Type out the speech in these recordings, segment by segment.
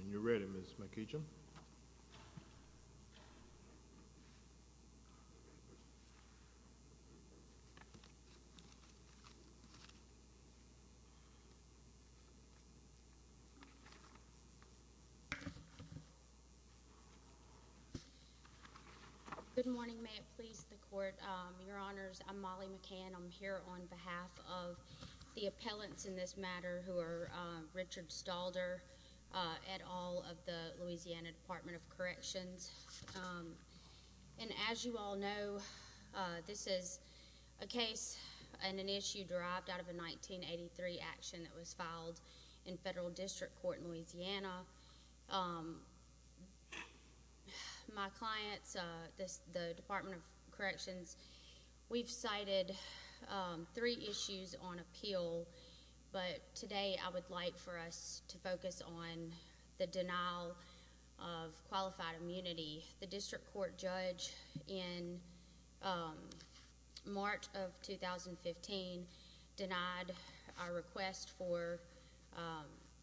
When you're ready, Ms. McEachin. Good morning, may it please the court, your honors, I'm Molly McEachin, I'm here on behalf of the appellants in this matter who are Richard Stalder, et al. of the Louisiana Department of Corrections. And as you all know, this is a case and an issue derived out of a 1983 action that was My clients, the Department of Corrections, we've cited three issues on appeal, but today I would like for us to focus on the denial of qualified immunity. The district court judge in March of 2015 denied our request for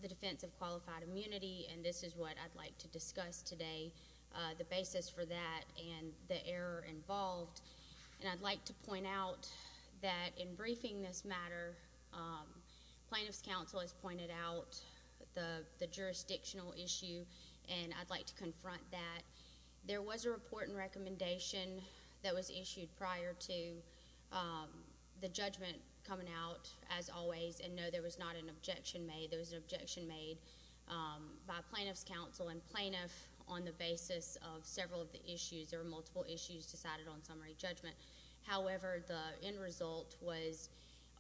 the defense of qualified immunity, and this is what I'd like to discuss today, the basis for that and the error involved. And I'd like to point out that in briefing this matter, plaintiff's counsel has pointed out the jurisdictional issue, and I'd like to confront that. There was a report and recommendation that was issued prior to the judgment coming out, as always, and no, there was not an objection made, there was an objection made by plaintiff's counsel and plaintiff on the basis of several of the issues, there were multiple issues decided on summary judgment, however, the end result was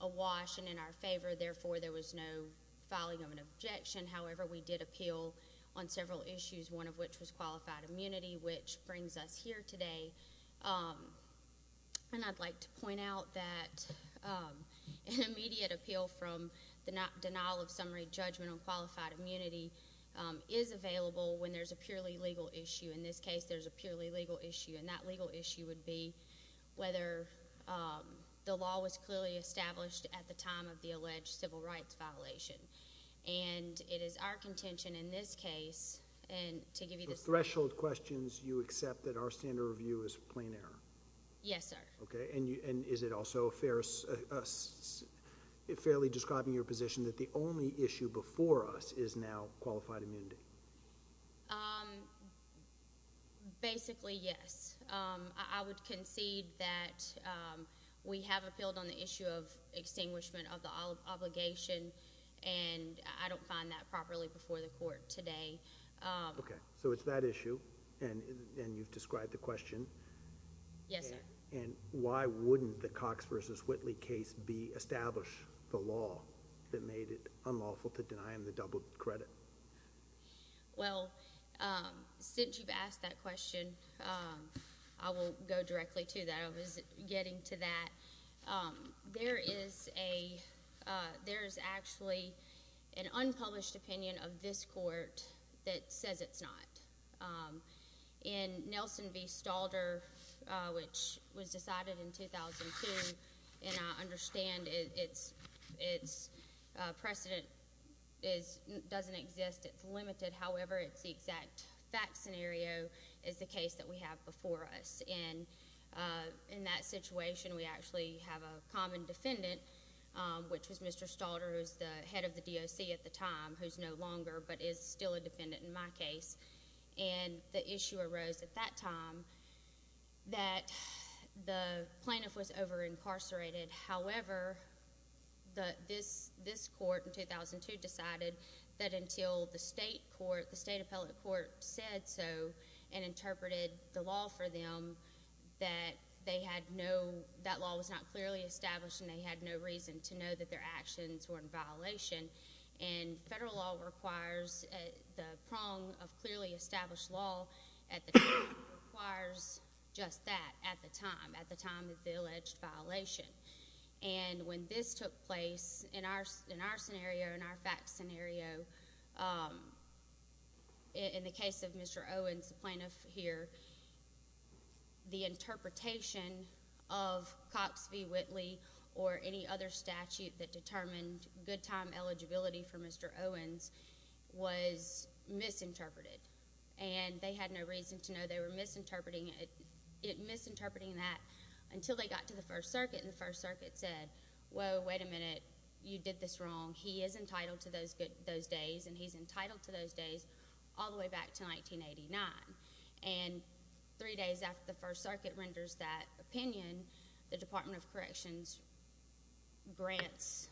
awash and in our favor, therefore, there was no filing of an objection, however, we did appeal on several issues, one of which was qualified immunity, which brings us here today. And I'd like to point out that an immediate appeal from the denial of summary judgment on qualified immunity is available when there's a purely legal issue, in this case, there's a purely legal issue, and that legal issue would be whether the law was clearly established at the time of the alleged civil rights violation, and it is our contention in this case, and to give you the... So, threshold questions, you accept that our standard review is plain error? Yes, sir. Okay, and is it also fairly describing your position that the only issue before us is now qualified immunity? Basically, yes. I would concede that we have appealed on the issue of extinguishment of the obligation, and I don't find that properly before the court today. Okay, so it's that issue, and you've described the question. Yes, sir. And why wouldn't the Cox v. Whitley case establish the law that made it unlawful to deny him the double credit? Well, since you've asked that question, I will go directly to that. I was getting to that. There is a... there is actually an unpublished opinion of this court that says it's not. In Nelson v. Stalder, which was decided in 2002, and I understand its precedent is... doesn't exist. It's limited. However, it's the exact fact scenario is the case that we have before us, and in that situation, we actually have a common defendant, which was Mr. Stalder, who was the head of the DOC at the time, who's no longer, but is still a defendant in my case. And the issue arose at that time that the plaintiff was over-incarcerated. However, this court in 2002 decided that until the state court, the state appellate court said so and interpreted the law for them, that they had no... that law was not clearly established and they had no reason to know that their actions were in violation. And federal law requires... the prong of clearly established law at the time requires just that at the time, at the time of the alleged violation. And when this took place, in our scenario, in our fact scenario, in the case of Mr. Owens, the plaintiff here, the interpretation of Cox v. Whitley or any other statute that determined good time eligibility for Mr. Owens was misinterpreted. And they had no reason to know they were misinterpreting it, misinterpreting that until they got to the First Circuit. And the First Circuit said, whoa, wait a minute, you did this wrong. He is entitled to those days, and he's entitled to those days all the way back to 1989. And three days after the First Circuit renders that opinion, the Department of Corrections grants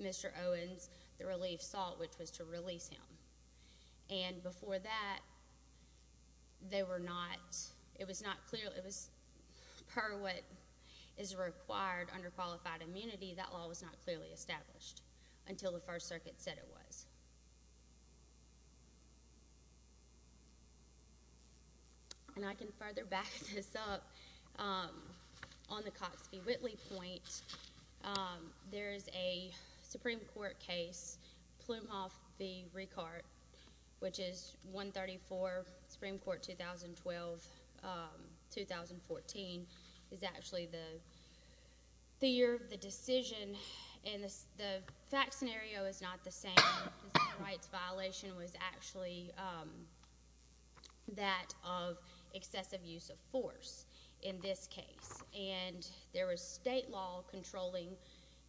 Mr. Owens the relief salt, which was to release him. And before that, they were not... it was not clear... it was... per what is required under qualified immunity, that law was not clearly established until the First Circuit said it was. And I can further back this up. On the Cox v. Whitley point, there is a Supreme Court case, Plumhoff v. Ricard, which is 134, Supreme Court, 2012-2014, is actually the year of the decision, and the fact scenario is not the same. The civil rights violation was actually that of excessive use of force. In this case. And there was state law controlling,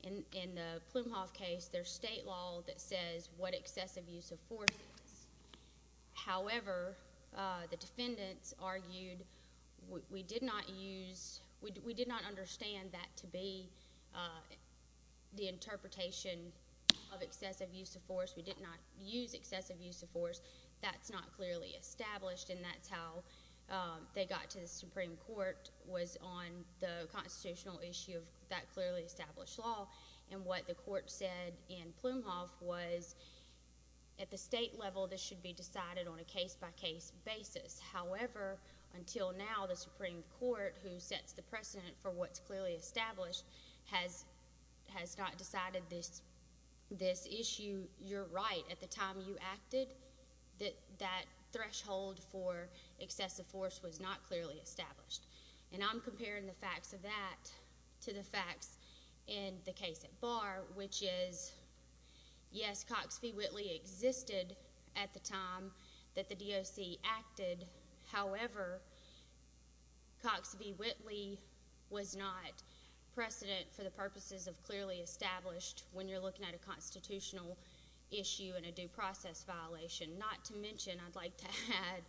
in the Plumhoff case, there's state law that says what excessive use of force is. However, the defendants argued, we did not use... we did not understand that to be the interpretation of excessive use of force. We did not use excessive use of force. That's not clearly established, and that's how they got to the Supreme Court, was on the constitutional issue of that clearly established law. And what the court said in Plumhoff was, at the state level, this should be decided on a case-by-case basis. However, until now, the Supreme Court, who sets the precedent for what's clearly established, has not decided this issue. You're right. At the time you acted, that threshold for excessive force was not clearly established. And I'm comparing the facts of that to the facts in the case at Bar, which is, yes, Cox v. Whitley existed at the time that the DOC acted. However, Cox v. Whitley was not precedent for the purposes of clearly established when you're looking at a constitutional issue and a due process violation. Not to mention, I'd like to add,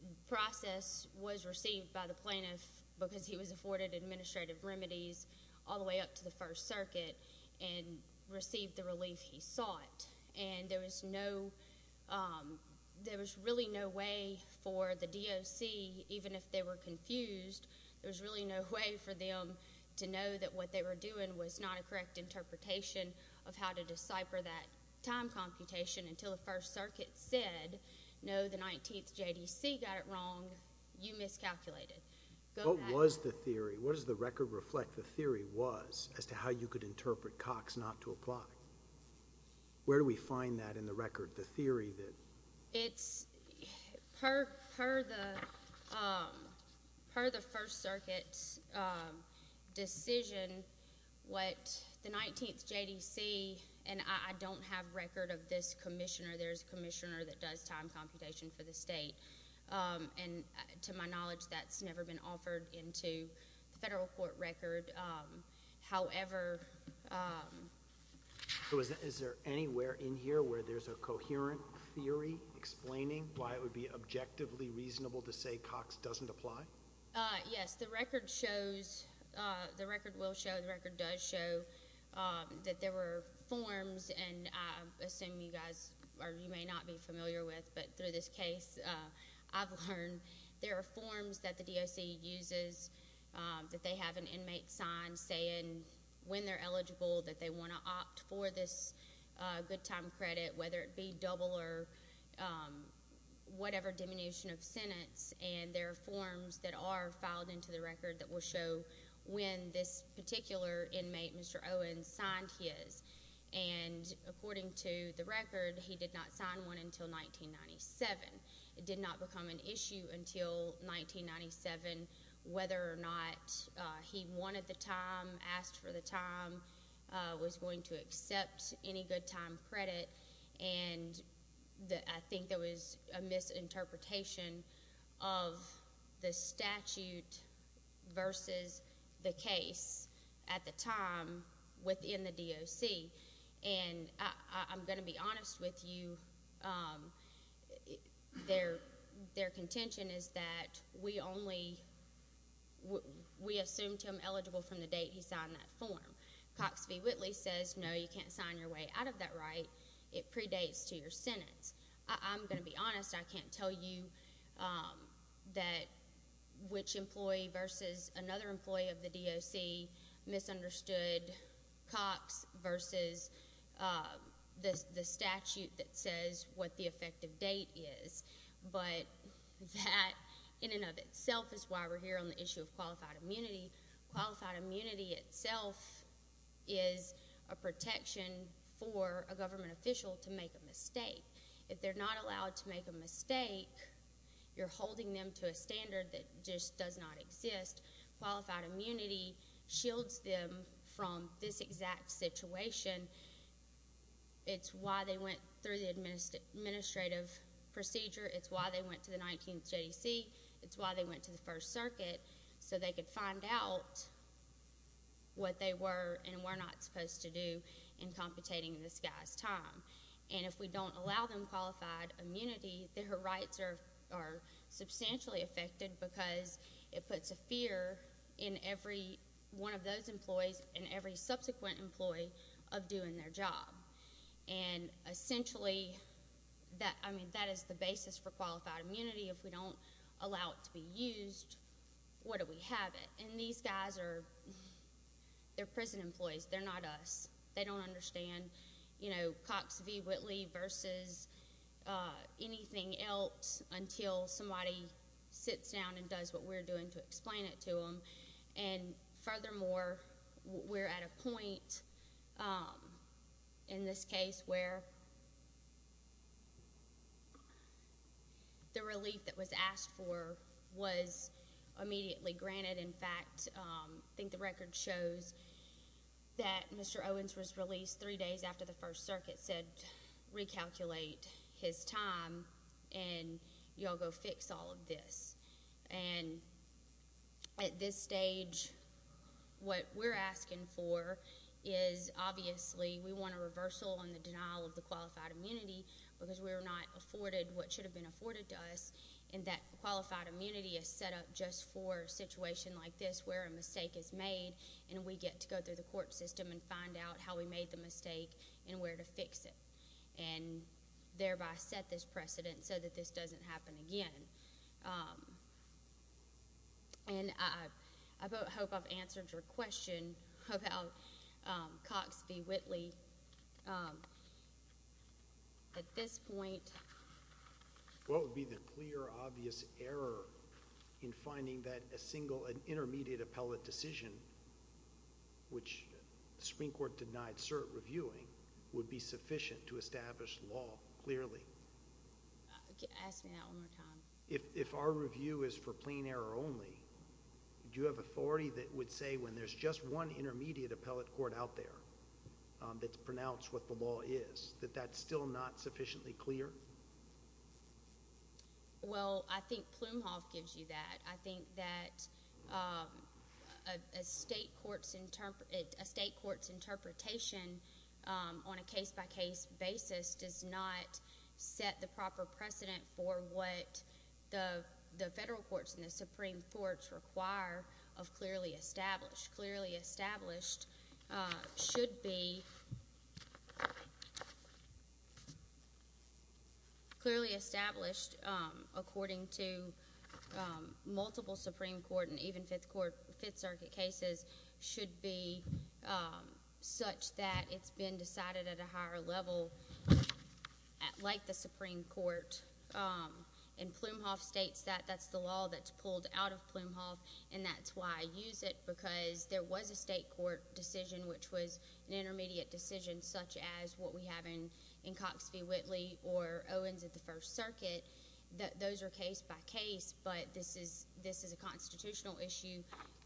the process was received by the plaintiff because he was afforded administrative remedies all the way up to the First Circuit and received the relief he sought. And there was no... there was really no way for the DOC, even if they were confused, there was really no way for them to know that what they were doing was not a correct interpretation of how to decipher that time computation until the First Circuit said, no, the 19th JDC got it wrong. You miscalculated. Go back... What was the theory? What does the record reflect the theory was as to how you could interpret Cox not to apply? Where do we find that in the record, the theory that... It's... per the First Circuit's decision, what the 19th JDC... and I don't have record of this commissioner. There's a commissioner that does time computation for the state. And to my knowledge, that's never been offered into the federal court record. However... Is there anywhere in here where there's a coherent theory explaining why it would be objectively reasonable to say Cox doesn't apply? Yes. The record shows... the record will show, the record does show that there were forms and I assume you guys are... you may not be familiar with, but through this case, I've learned there are forms that the DOC uses that they have an inmate sign saying when they're eligible, that they want to opt for this good time credit, whether it be double or whatever diminution of sentence. And there are forms that are filed into the record that will show when this particular inmate, Mr. Owens, signed his. And according to the record, he did not sign one until 1997. It did not become an issue until 1997 whether or not he wanted the time, asked for the time, was going to accept any good time credit, and I think there was a misinterpretation of the statute versus the case at the time within the DOC. And I'm going to be honest with you, their contention is that we only... we assumed him eligible from the date he signed that form. Cox v. Whitley says, no, you can't sign your way out of that right. It predates to your sentence. I'm going to be honest, I can't tell you that... which employee versus another employee of the DOC misunderstood Cox versus the statute that says what the effective date is. But that, in and of itself, is why we're here on the issue of qualified immunity. Qualified immunity itself is a protection for a government official to make a mistake. If they're not allowed to make a mistake, you're holding them to a standard that just does not exist. Qualified immunity shields them from this exact situation. It's why they went through the administrative procedure. It's why they went to the 19th JDC. It's why they went to the First Circuit, so they could find out what they were and were not supposed to do in competing in this guy's time. And if we don't allow them qualified immunity, their rights are substantially affected because it puts a fear in every one of those employees and every subsequent employee of doing their job. And essentially, I mean, that is the basis for qualified immunity. If we don't allow it to be used, what do we have it? And these guys are... they're prison employees. They're not us. They don't understand, you know, Cox v. Whitley versus anything else until somebody sits down and does what we're doing to explain it to them. And furthermore, we're at a point in this case where the relief that was asked for was immediately granted. In fact, I think the record shows that Mr. Owens was released three days after the First Circuit. And at this stage, what we're asking for is, obviously, we want a reversal on the denial of the qualified immunity because we were not afforded what should have been afforded to us. And that qualified immunity is set up just for a situation like this where a mistake is made, and we get to go through the court system and find out how we made the mistake and where to fix it, and thereby set this precedent so that this doesn't happen again. And I hope I've answered your question about Cox v. Whitley. At this point... What would be the clear, obvious error in finding that a single and intermediate appellate decision, which the Supreme Court denied cert reviewing, would be sufficient to establish law clearly? Ask me that one more time. If our review is for plain error only, do you have authority that would say when there's just one intermediate appellate court out there that's pronounced what the law is, that that's still not sufficiently clear? Well, I think Plumhoff gives you that. I think that a state court's interpretation on a case-by-case basis does not set the proper precedent for what the federal courts and the Supreme Courts require of clearly established. Clearly established should be... clearly established, according to multiple Supreme Court and even Fifth Circuit cases, should be such that it's been decided at a Supreme Court. And Plumhoff states that that's the law that's pulled out of Plumhoff. And that's why I use it, because there was a state court decision which was an intermediate decision, such as what we have in Cox v. Whitley or Owens at the First Circuit. Those are case-by-case, but this is a constitutional issue,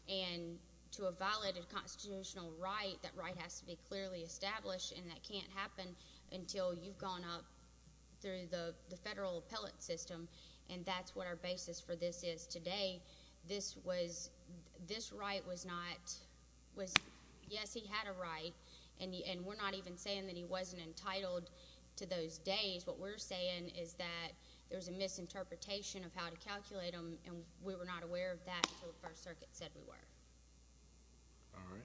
and to a violated constitutional right, that right has to be clearly established, and that can't happen until you've gone up through the federal appellate system, and that's what our basis for this is today. This right was not... yes, he had a right, and we're not even saying that he wasn't entitled to those days. What we're saying is that there was a misinterpretation of how to calculate them, and we were not aware of that until the First Circuit said we were. All right.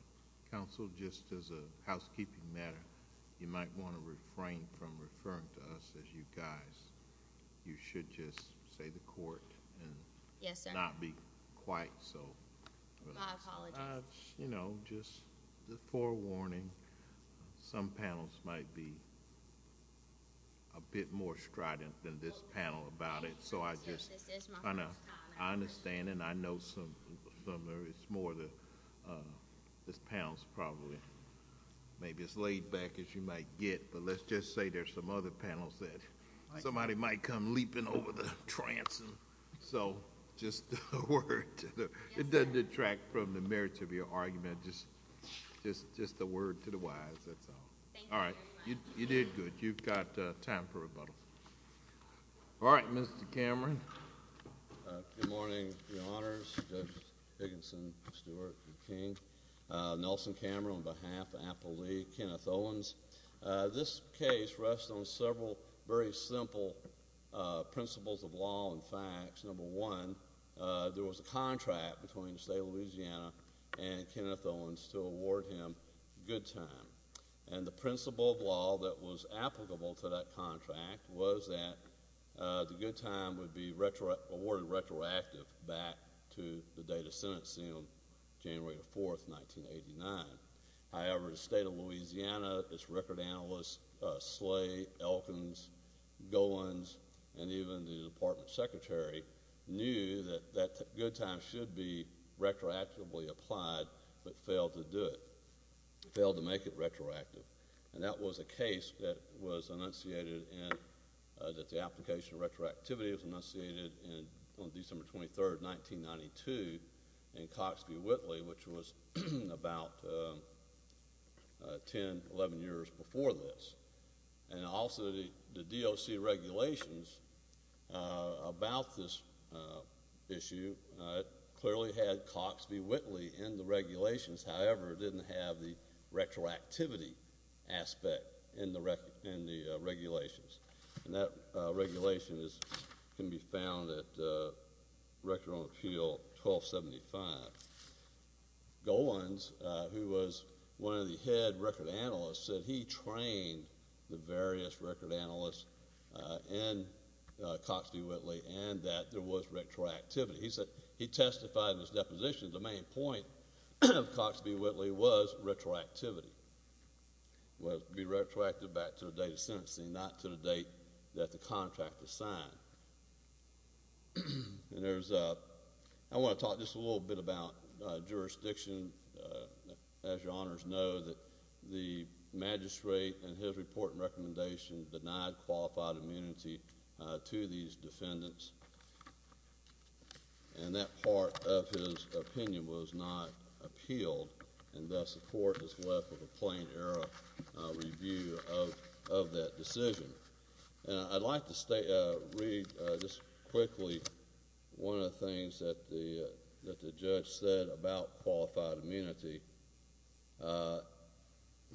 Counsel, just as a housekeeping matter, you might want to refrain from referring to us as you guys. You should just say the court and not be quite so... My apologies. You know, just a forewarning. Some panels might be a bit more strident than this panel about it, so I just... This is my first time. I understand, and I know some of it's more the... this panel's probably maybe as laid back as you might get, but let's just say there's some other panels that somebody might come leaping over the trance, so just a word to the... Yes, sir. It doesn't detract from the merits of your argument, just a word to the wise, that's all. Thank you very much. All right. You did good. You've got time for rebuttal. All right, Mr. Cameron. Good morning, Your Honors, Judge Higginson, Stewart, King, Nelson Cameron, on behalf of Apple Lee, Kenneth Owens. This case rests on several very simple principles of law and facts. Number one, there was a contract between the state of Louisiana and Kenneth Owens to award him good time. And the principle of law that was applicable to that contract was that the good time would be awarded retroactive back to the date of sentencing on January the 4th, 1989. However, the state of Louisiana, its record analysts, Slay, Elkins, Gowans, and even the department secretary knew that that good time should be retroactively applied, but failed to do it, failed to make it retroactive, and that was a case that was enunciated in... that the application of retroactivity was enunciated on December 23rd, 1992, in Cox v. Whitley, which was about 10, 11 years before this. And also, the DOC regulations about this issue clearly had Cox v. Whitley in the regulations. However, it didn't have the retroactivity aspect in the regulations. And that regulation can be found at Record on Appeal 1275. Gowans, who was one of the head record analysts, said he trained the various record analysts in Cox v. Whitley and that there was retroactivity. He testified in his deposition, the main point of Cox v. Whitley was retroactivity, was to make it retroactive back to the date of sentencing, not to the date that the contract was signed. And there's a... I want to talk just a little bit about jurisdiction. As your honors know, that the magistrate in his report and recommendation denied qualified immunity to these defendants, and that part of his opinion was not appealed, and thus the court is left with a plain error review of that decision. And I'd like to read just quickly one of the things that the judge said about qualified immunity.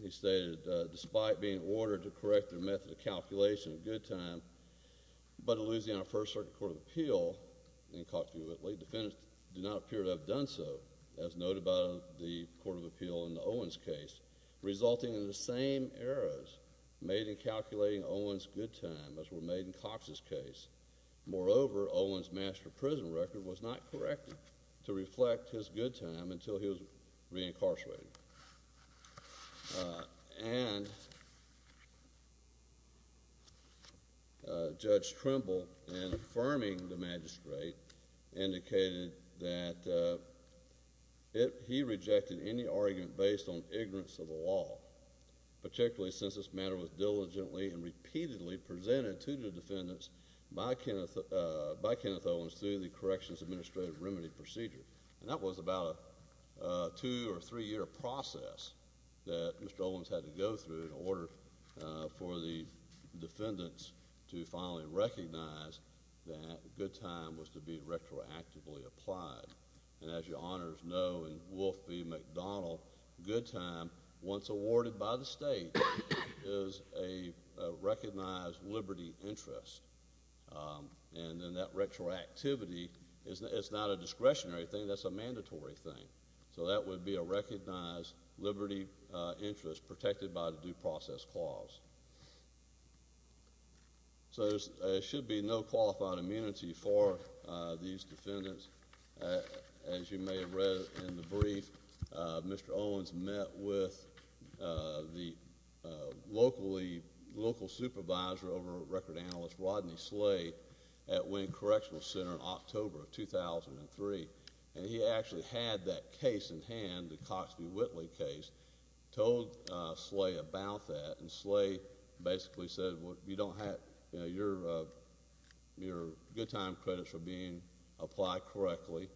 He stated, despite being ordered to correct their method of calculation at a good time, but in Louisiana First Circuit Court of Appeal, in Cox v. Whitley, defendants do not appear to have done so, as noted by the Court of Appeal in the Owens case, resulting in the same errors made in calculating Owens' good time, as were made in Cox's case. Moreover, Owens' master prison record was not corrected to reflect his good time until he was reincarcerated. And Judge Trimble, in affirming the magistrate, indicated that he rejected any argument based on ignorance of the law, particularly since this matter was diligently and repeatedly presented to the defendants by Kenneth Owens through the Corrections Administrative Remedy Procedure. And that was about a two- or three-year process that Mr. Owens had to go through in order for the defendants to finally recognize that good time was to be retroactively applied. And as your Honors know, in Wolf v. McDonald, good time, once awarded by the state, is a recognized liberty interest. And then that retroactivity, it's not a discretionary thing, that's a mandatory thing. So that would be a recognized liberty interest protected by the Due Process Clause. So there should be no qualified immunity for these defendants. As you may have read in the brief, Mr. Owens met with the local supervisor over at Record Panelist, Rodney Slade, at Winn Correctional Center in October of 2003. And he actually had that case in hand, the Cox v. Whitley case, told Slade about that. And Slade basically said, you know, your good time credits are being applied correctly.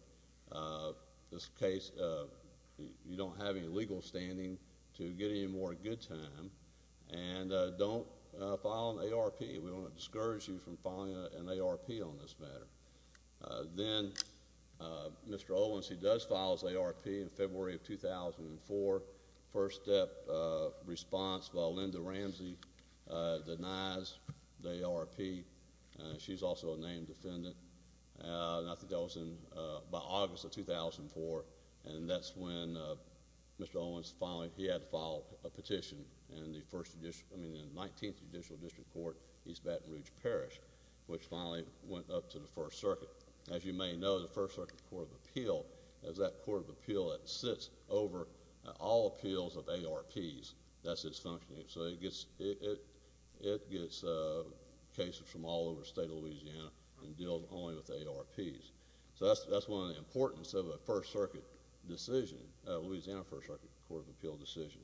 This case, you don't have any legal standing to get any more good time. And don't file an ARP. We don't want to discourage you from filing an ARP on this matter. Then Mr. Owens, he does file his ARP in February of 2004. First step response by Linda Ramsey denies the ARP. She's also a named defendant. And I think that was by August of 2004. And that's when Mr. Owens finally, he had to file a petition in the 19th Judicial District Court, East Baton Rouge Parish, which finally went up to the First Circuit. As you may know, the First Circuit Court of Appeal is that court of appeal that sits over all appeals of ARPs. That's its functioning. So it gets cases from all over the state of Louisiana and deals only with ARPs. So that's one of the importance of a First Circuit decision, a Louisiana First Circuit Court of Appeal decision.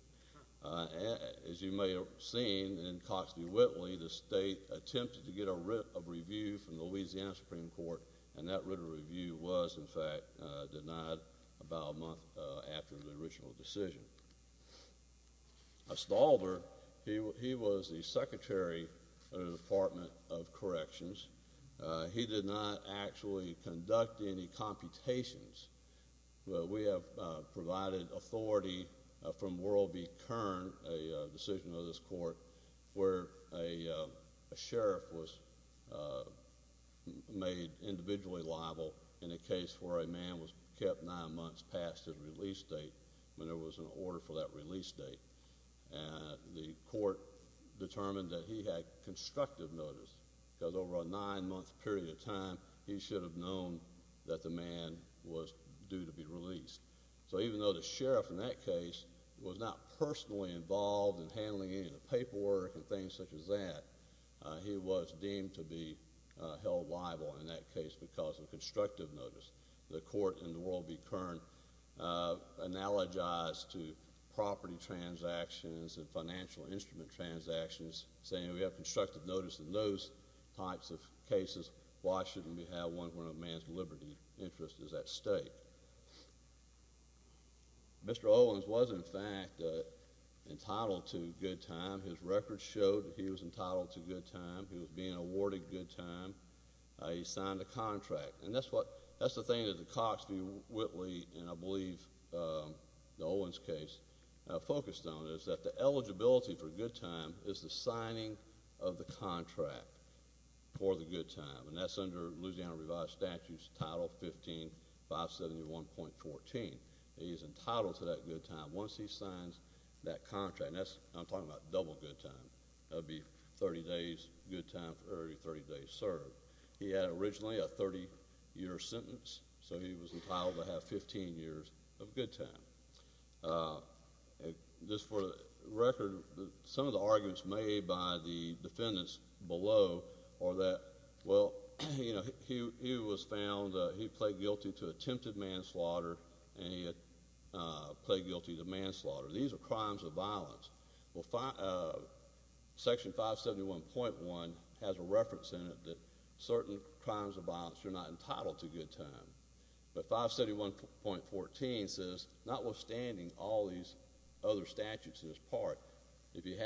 As you may have seen in Cox v. Whitley, the state attempted to get a writ of review from the Louisiana Supreme Court. And that writ of review was, in fact, denied about a month after the original decision. Stalder, he was the Secretary of the Department of Corrections. He did not actually conduct any computations. We have provided authority from Whirlby Kern, a decision of this court, where a sheriff was made individually liable in a case where a man was kept nine months past his release date when there was an order for that release date. The court determined that he had constructive notice, because over a nine-month period of time, he was due to be released. So even though the sheriff in that case was not personally involved in handling any of the paperwork and things such as that, he was deemed to be held liable in that case because of constructive notice. The court in the Whirlby Kern analogized to property transactions and financial instrument transactions, saying we have constructive notice in those types of cases, why shouldn't we have one where a man's liberty interest is at stake? Mr. Owens was, in fact, entitled to good time. His record showed that he was entitled to good time. He was being awarded good time. He signed the contract. And that's the thing that the Cox v. Whitley, and I believe the Owens case focused on, is that the eligibility for good time is the signing of the contract for the good time. And that's under Louisiana Revised Statutes Title 15571.14. He is entitled to that good time once he signs that contract. And I'm talking about double good time. That would be 30 days good time for every 30 days served. He had originally a 30-year sentence, so he was entitled to have 15 years of good time. Just for the record, some of the arguments made by the defendants below are that, well, he was found, he pled guilty to attempted manslaughter, and he pled guilty to manslaughter. These are crimes of violence. Well, Section 571.1 has a reference in it that certain crimes of violence, you're not entitled to good time. But 571.14 says, notwithstanding all these other statutes in this part, if you're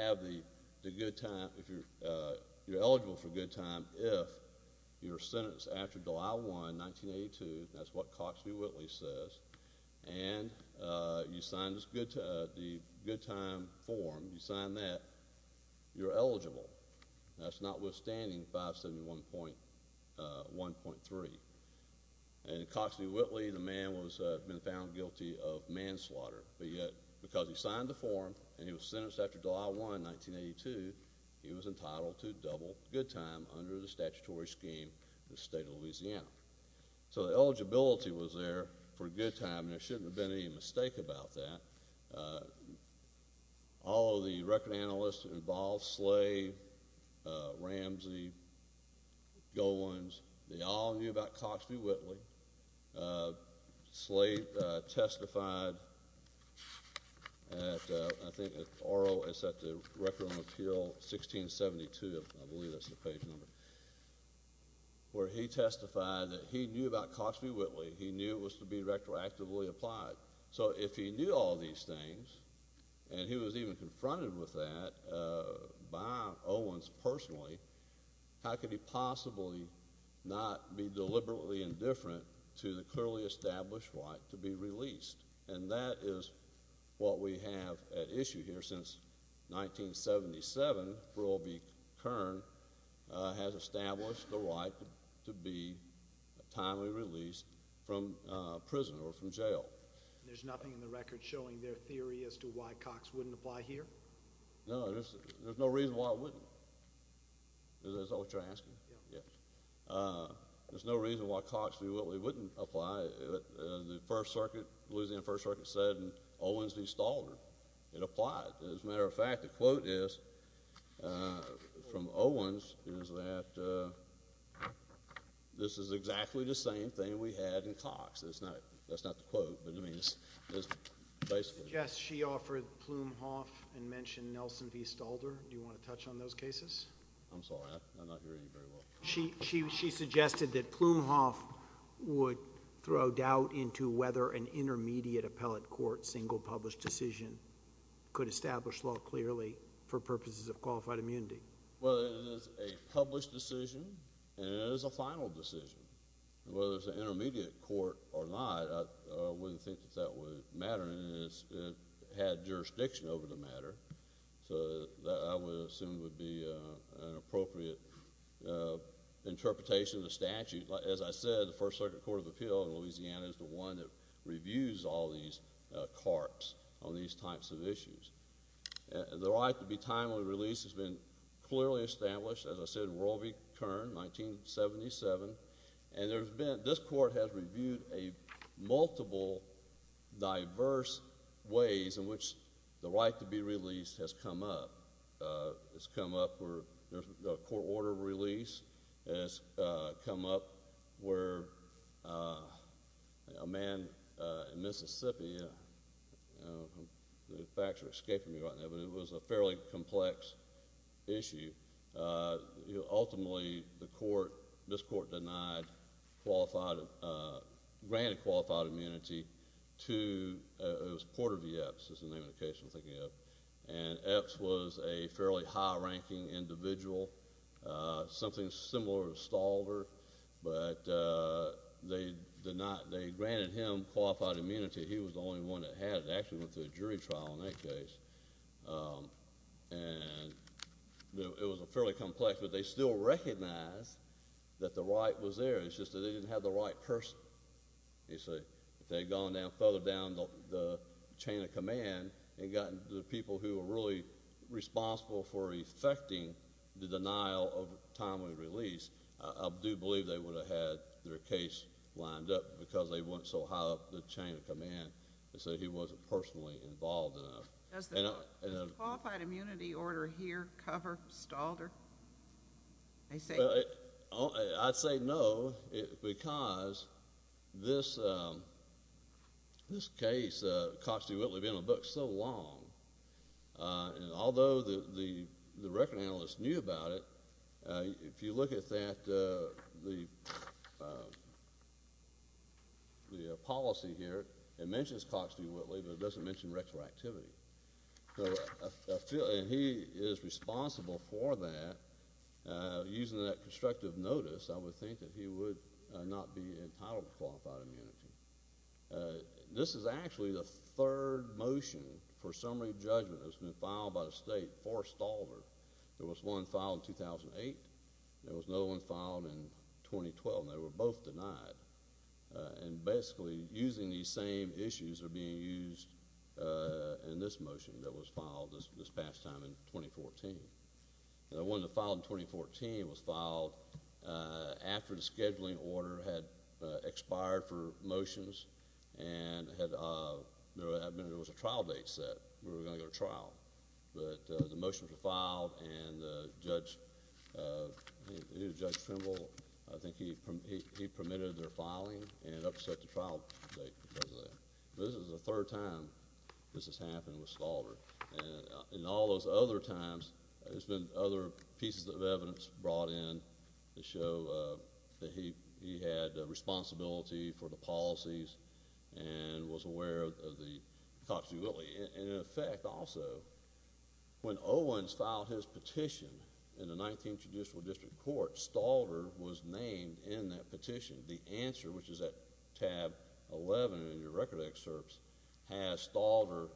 eligible for good time if you're sentenced after July 1, 1982, that's what Cox v. Whitley says, and you sign the good time form, you sign that, you're eligible. That's notwithstanding 571.1.3. And in Cox v. Whitley, the man was found guilty of manslaughter, but yet because he signed the form and he was sentenced after July 1, 1982, he was entitled to double good time under the statutory scheme of the state of Louisiana. So the eligibility was there for good time, and there shouldn't have been any mistake about that. All of the record analysts involved, Slate, Ramsey, Gowans, they all knew about Cox v. Whitley. Slate testified at, I think at Oro, it's at the Record and Appeal, 1672, I believe that's the page number, where he testified that he knew about Cox v. Whitley. He knew it was to be retroactively applied. So if he knew all these things, and he was even confronted with that by Owens personally, how could he possibly not be deliberately indifferent to the clearly established right to be released? And that is what we have at issue here since 1977, for O.B. Kern has established the right to be timely released from prison or from jail. There's nothing in the record showing their theory as to why Cox wouldn't apply here? No, there's no reason why it wouldn't. Is that what you're asking? Yeah. Yeah. There's no reason why Cox v. Whitley wouldn't apply. The First Circuit, Louisiana First Circuit said, and Owens installed it, it applied. As a matter of fact, the quote is, from Owens, is that this is exactly the same thing we had in Cox. That's not the quote, but I mean, it's basically. Yes, she offered Plumhoff and mentioned Nelson v. Stalder. Do you want to touch on those cases? I'm sorry, I'm not hearing you very well. She suggested that Plumhoff would throw doubt into whether an intermediate appellate court with a single published decision could establish law clearly for purposes of qualified immunity. Well, it is a published decision, and it is a final decision. Whether it's an intermediate court or not, I wouldn't think that that would matter. It had jurisdiction over the matter, so I would assume it would be an appropriate interpretation of the statute. As I said, the First Circuit Court of Appeal in Louisiana is the one that reviews all these carts on these types of issues. The right to be timely released has been clearly established. As I said, Roe v. Kern, 1977, and this court has reviewed multiple diverse ways in which the right to be released has come up. A court order release has come up where a man in Mississippi—the facts are escaping me right now, but it was a fairly complex issue. Ultimately, this court denied—granted qualified immunity to Porter v. Epps, as the name of the case I'm thinking of, and Epps was a fairly high-ranking individual, something similar to Stalder, but they did not—they granted him qualified immunity. He was the only one that had. They actually went through a jury trial in that case, and it was fairly complex, but they still recognized that the right was there. It's just that they didn't have the right person. If they had gone further down the chain of command and gotten the people who were really responsible for effecting the denial of timely release, I do believe they would have had their case lined up because they went so high up the chain of command. They said he wasn't personally involved enough. Does the qualified immunity order here cover Stalder? I'd say no, because this case, Cox v. Whitley, has been in the books so long, and although the record analyst knew about it, if you look at the policy here, it mentions Cox v. Whitley, but it doesn't mention retroactivity. He is responsible for that. Using that constructive notice, I would think that he would not be entitled to qualified immunity. This is actually the third motion for summary judgment that's been filed by the state for Stalder. There was one filed in 2008. There was another one filed in 2012, and they were both denied. Basically, using these same issues are being used in this motion that was filed this past time in 2014. The one that was filed in 2014 was filed after the scheduling order had expired for motions, and there was a trial date set. We were going to go to trial, but the motions were filed, and Judge Trimble, I think he permitted their filing, and it upset the trial date. This is the third time this has happened with Stalder. In all those other times, there's been other pieces of evidence brought in to show that he had responsibility for the policies and was aware of Cox v. Whitley. In effect, also, when Owens filed his petition in the 19th Judicial District Court, Stalder was named in that petition. The answer, which is at tab 11 in your record of excerpts, has Stalder.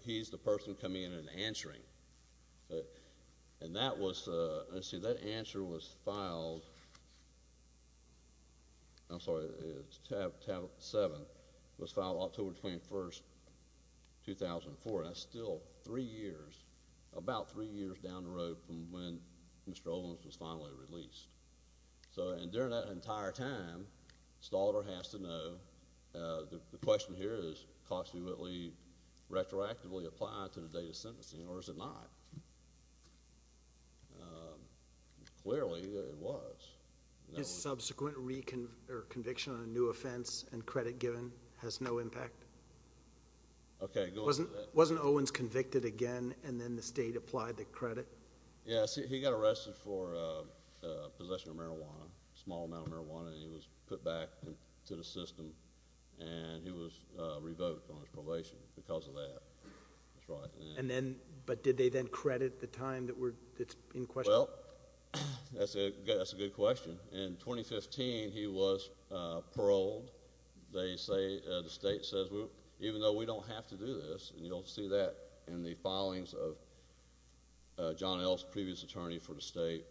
He's the person coming in and answering. That answer was filed—I'm sorry, it's tab 7. It was filed October 21, 2004. That's still three years, about three years down the road from when Mr. Owens was finally released. During that entire time, Stalder has to know, the question here is Cox v. Whitley retroactively applied to the date of sentencing, or is it not? Clearly, it was. His subsequent conviction on a new offense and credit given has no impact? Okay. Wasn't Owens convicted again, and then the state applied the credit? Yes. He got arrested for possession of marijuana, a small amount of marijuana, and he was put back into the system, and he was revoked on his probation because of that. That's right. But did they then credit the time that's in question? Well, that's a good question. In 2015, he was paroled. They say—the state says, even though we don't have to do this, and you'll see that in the filings of John Ellis, previous attorney for the state,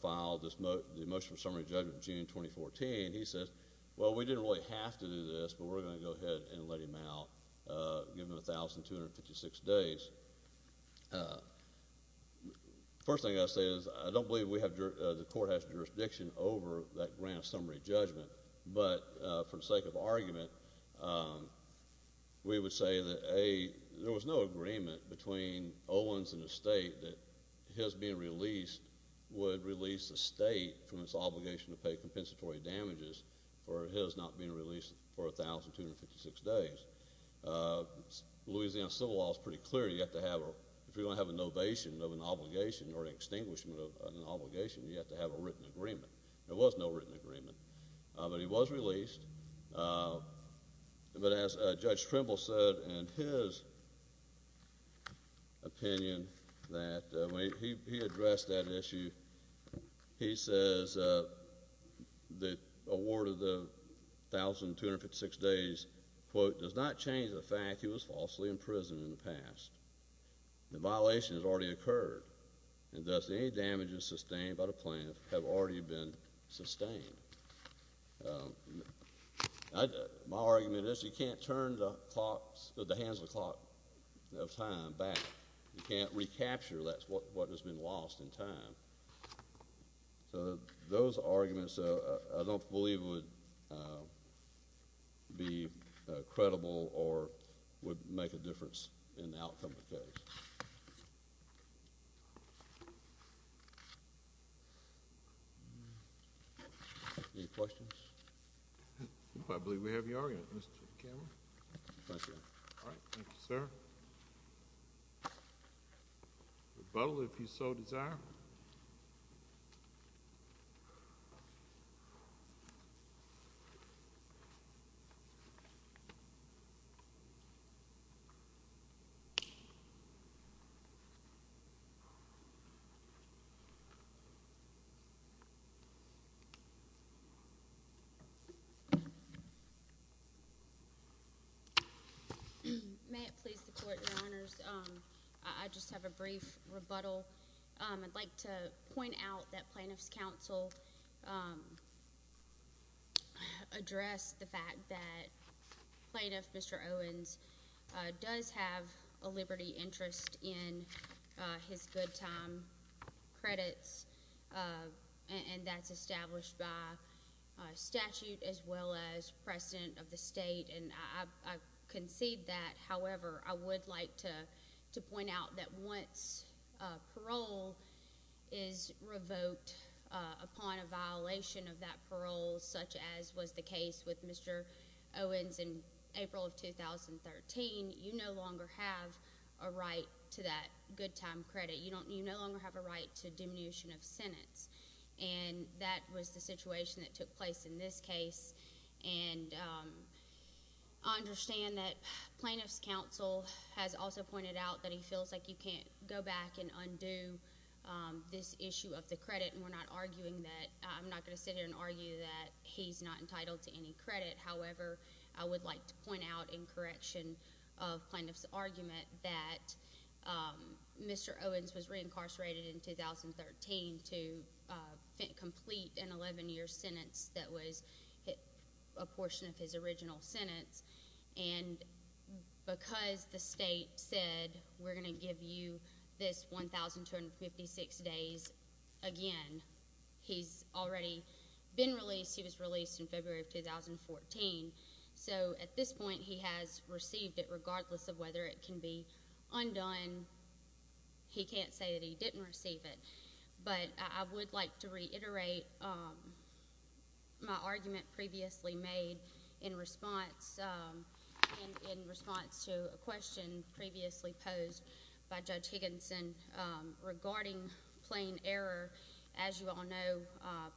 filed the motion for summary judgment in June 2014. He says, well, we didn't really have to do this, but we're going to go ahead and let him out, give him 1,256 days. First thing I'll say is I don't believe the court has jurisdiction over that grand summary judgment, but for the sake of argument, we would say that A, there was no agreement between Owens and the state that his being released would release the state from its obligation to pay compensatory damages for his not being released for 1,256 days. Louisiana civil law is pretty clear. You have to have—if you're going to have an ovation of an obligation or an extinguishment of an obligation, you have to have a written agreement. There was no written agreement, but he was released. But as Judge Trimble said in his opinion that when he addressed that issue, he says the award of the 1,256 days, quote, does not change the fact he was falsely imprisoned in the past. The violation has already occurred, and thus any damages sustained by the plaintiff have already been sustained. My argument is you can't turn the hands of the clock of time back. You can't recapture what has been lost in time. So those arguments, I don't believe would be credible or would make a difference in the outcome of the case. Any questions? I believe we have your argument, Mr. Cameron. Thank you. All right. Thank you, sir. Rebuttal, if you so desire. Thank you. May it please the Court, Your Honors, I just have a brief rebuttal. I'd like to point out that Plaintiff's Counsel addressed the fact that Plaintiff Mr. Owens does have a liberty interest in his good time credits, and that's established by statute as well as precedent of the state, and I concede that. However, I would like to point out that once parole is revoked upon a violation of that parole, such as was the case with Mr. Owens in April of 2013, you no longer have a right to that good time credit. You no longer have a right to diminution of sentence, and that was the situation that took place in this case. And I understand that Plaintiff's Counsel has also pointed out that he feels like you can't go back and undo this issue of the credit, and we're not arguing that. I'm not going to sit here and argue that he's not entitled to any credit. However, I would like to point out in correction of Plaintiff's argument that Mr. Owens was reincarcerated in 2013 to complete an 11-year sentence that was a portion of his original sentence, and because the state said we're going to give you this 1,256 days again, he's already been released. He was released in February of 2014. So at this point, he has received it regardless of whether it can be undone. He can't say that he didn't receive it. But I would like to reiterate my argument previously made in response to a question previously posed by Judge Higginson regarding plain error. As you all know,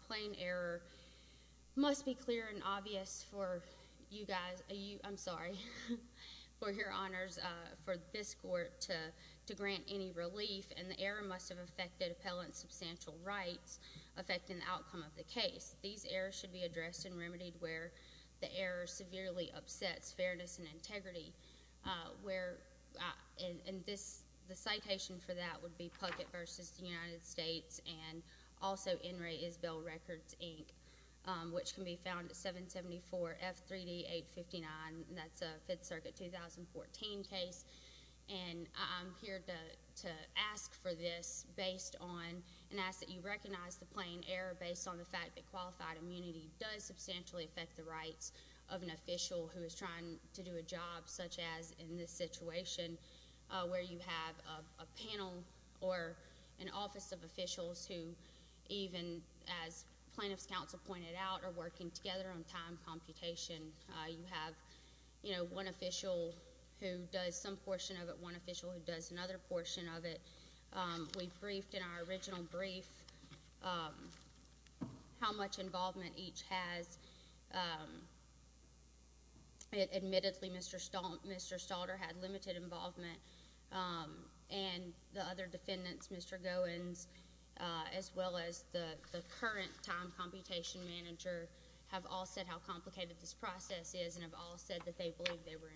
plain error must be clear and obvious for you guys. I'm sorry, for your honors, for this court to grant any relief, and the error must have affected appellant's substantial rights, affecting the outcome of the case. These errors should be addressed and remedied where the error severely upsets fairness and integrity. The citation for that would be Puckett v. United States and also N. Ray Isbell Records, Inc., which can be found at 774-F3D-859. That's a Fifth Circuit 2014 case. And I'm here to ask for this based on and ask that you recognize the plain error based on the fact that qualified immunity does substantially affect the rights of an official who is trying to do a job such as in this situation where you have a panel or an office of officials who even, as plaintiff's counsel pointed out, are working together on time computation. You have, you know, one official who does some portion of it, one official who does another portion of it. We've briefed in our original brief how much involvement each has. Admittedly, Mr. Stalter had limited involvement, and the other defendants, Mr. Goins, as well as the current time computation manager, have all said how complicated this process is and have all said that they believe they were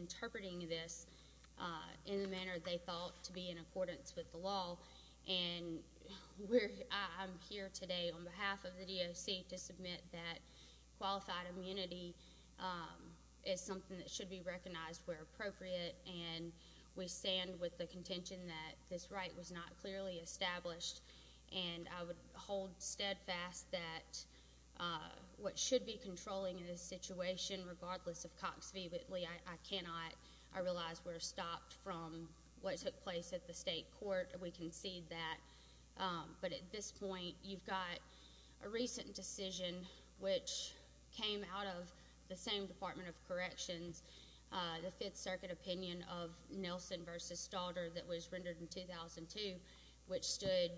interpreting this in the manner they thought to be in accordance with the law. And I'm here today on behalf of the DOC to submit that qualified immunity is something that should be recognized where appropriate, and we stand with the contention that this right was not clearly established. And I would hold steadfast that what should be controlling in this situation, regardless of Cox v. Whitley, I cannot. I realize we're stopped from what took place at the state court. We concede that. But at this point, you've got a recent decision which came out of the same Department of Corrections, the Fifth Circuit opinion of Nelson v. Stalter that was rendered in 2002, which stood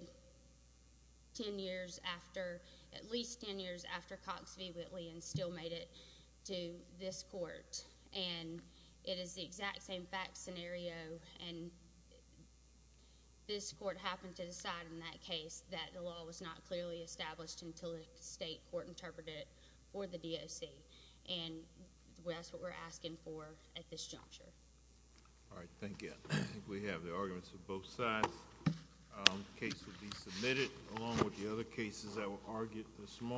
ten years after, at least ten years after Cox v. Whitley and still made it to this court. And it is the exact same fact scenario, and this court happened to decide in that case that the law was not clearly established until the state court interpreted it for the DOC. And that's what we're asking for at this juncture. All right, thank you. I think we have the arguments for both sides. Case will be submitted, along with the other cases that were argued this morning.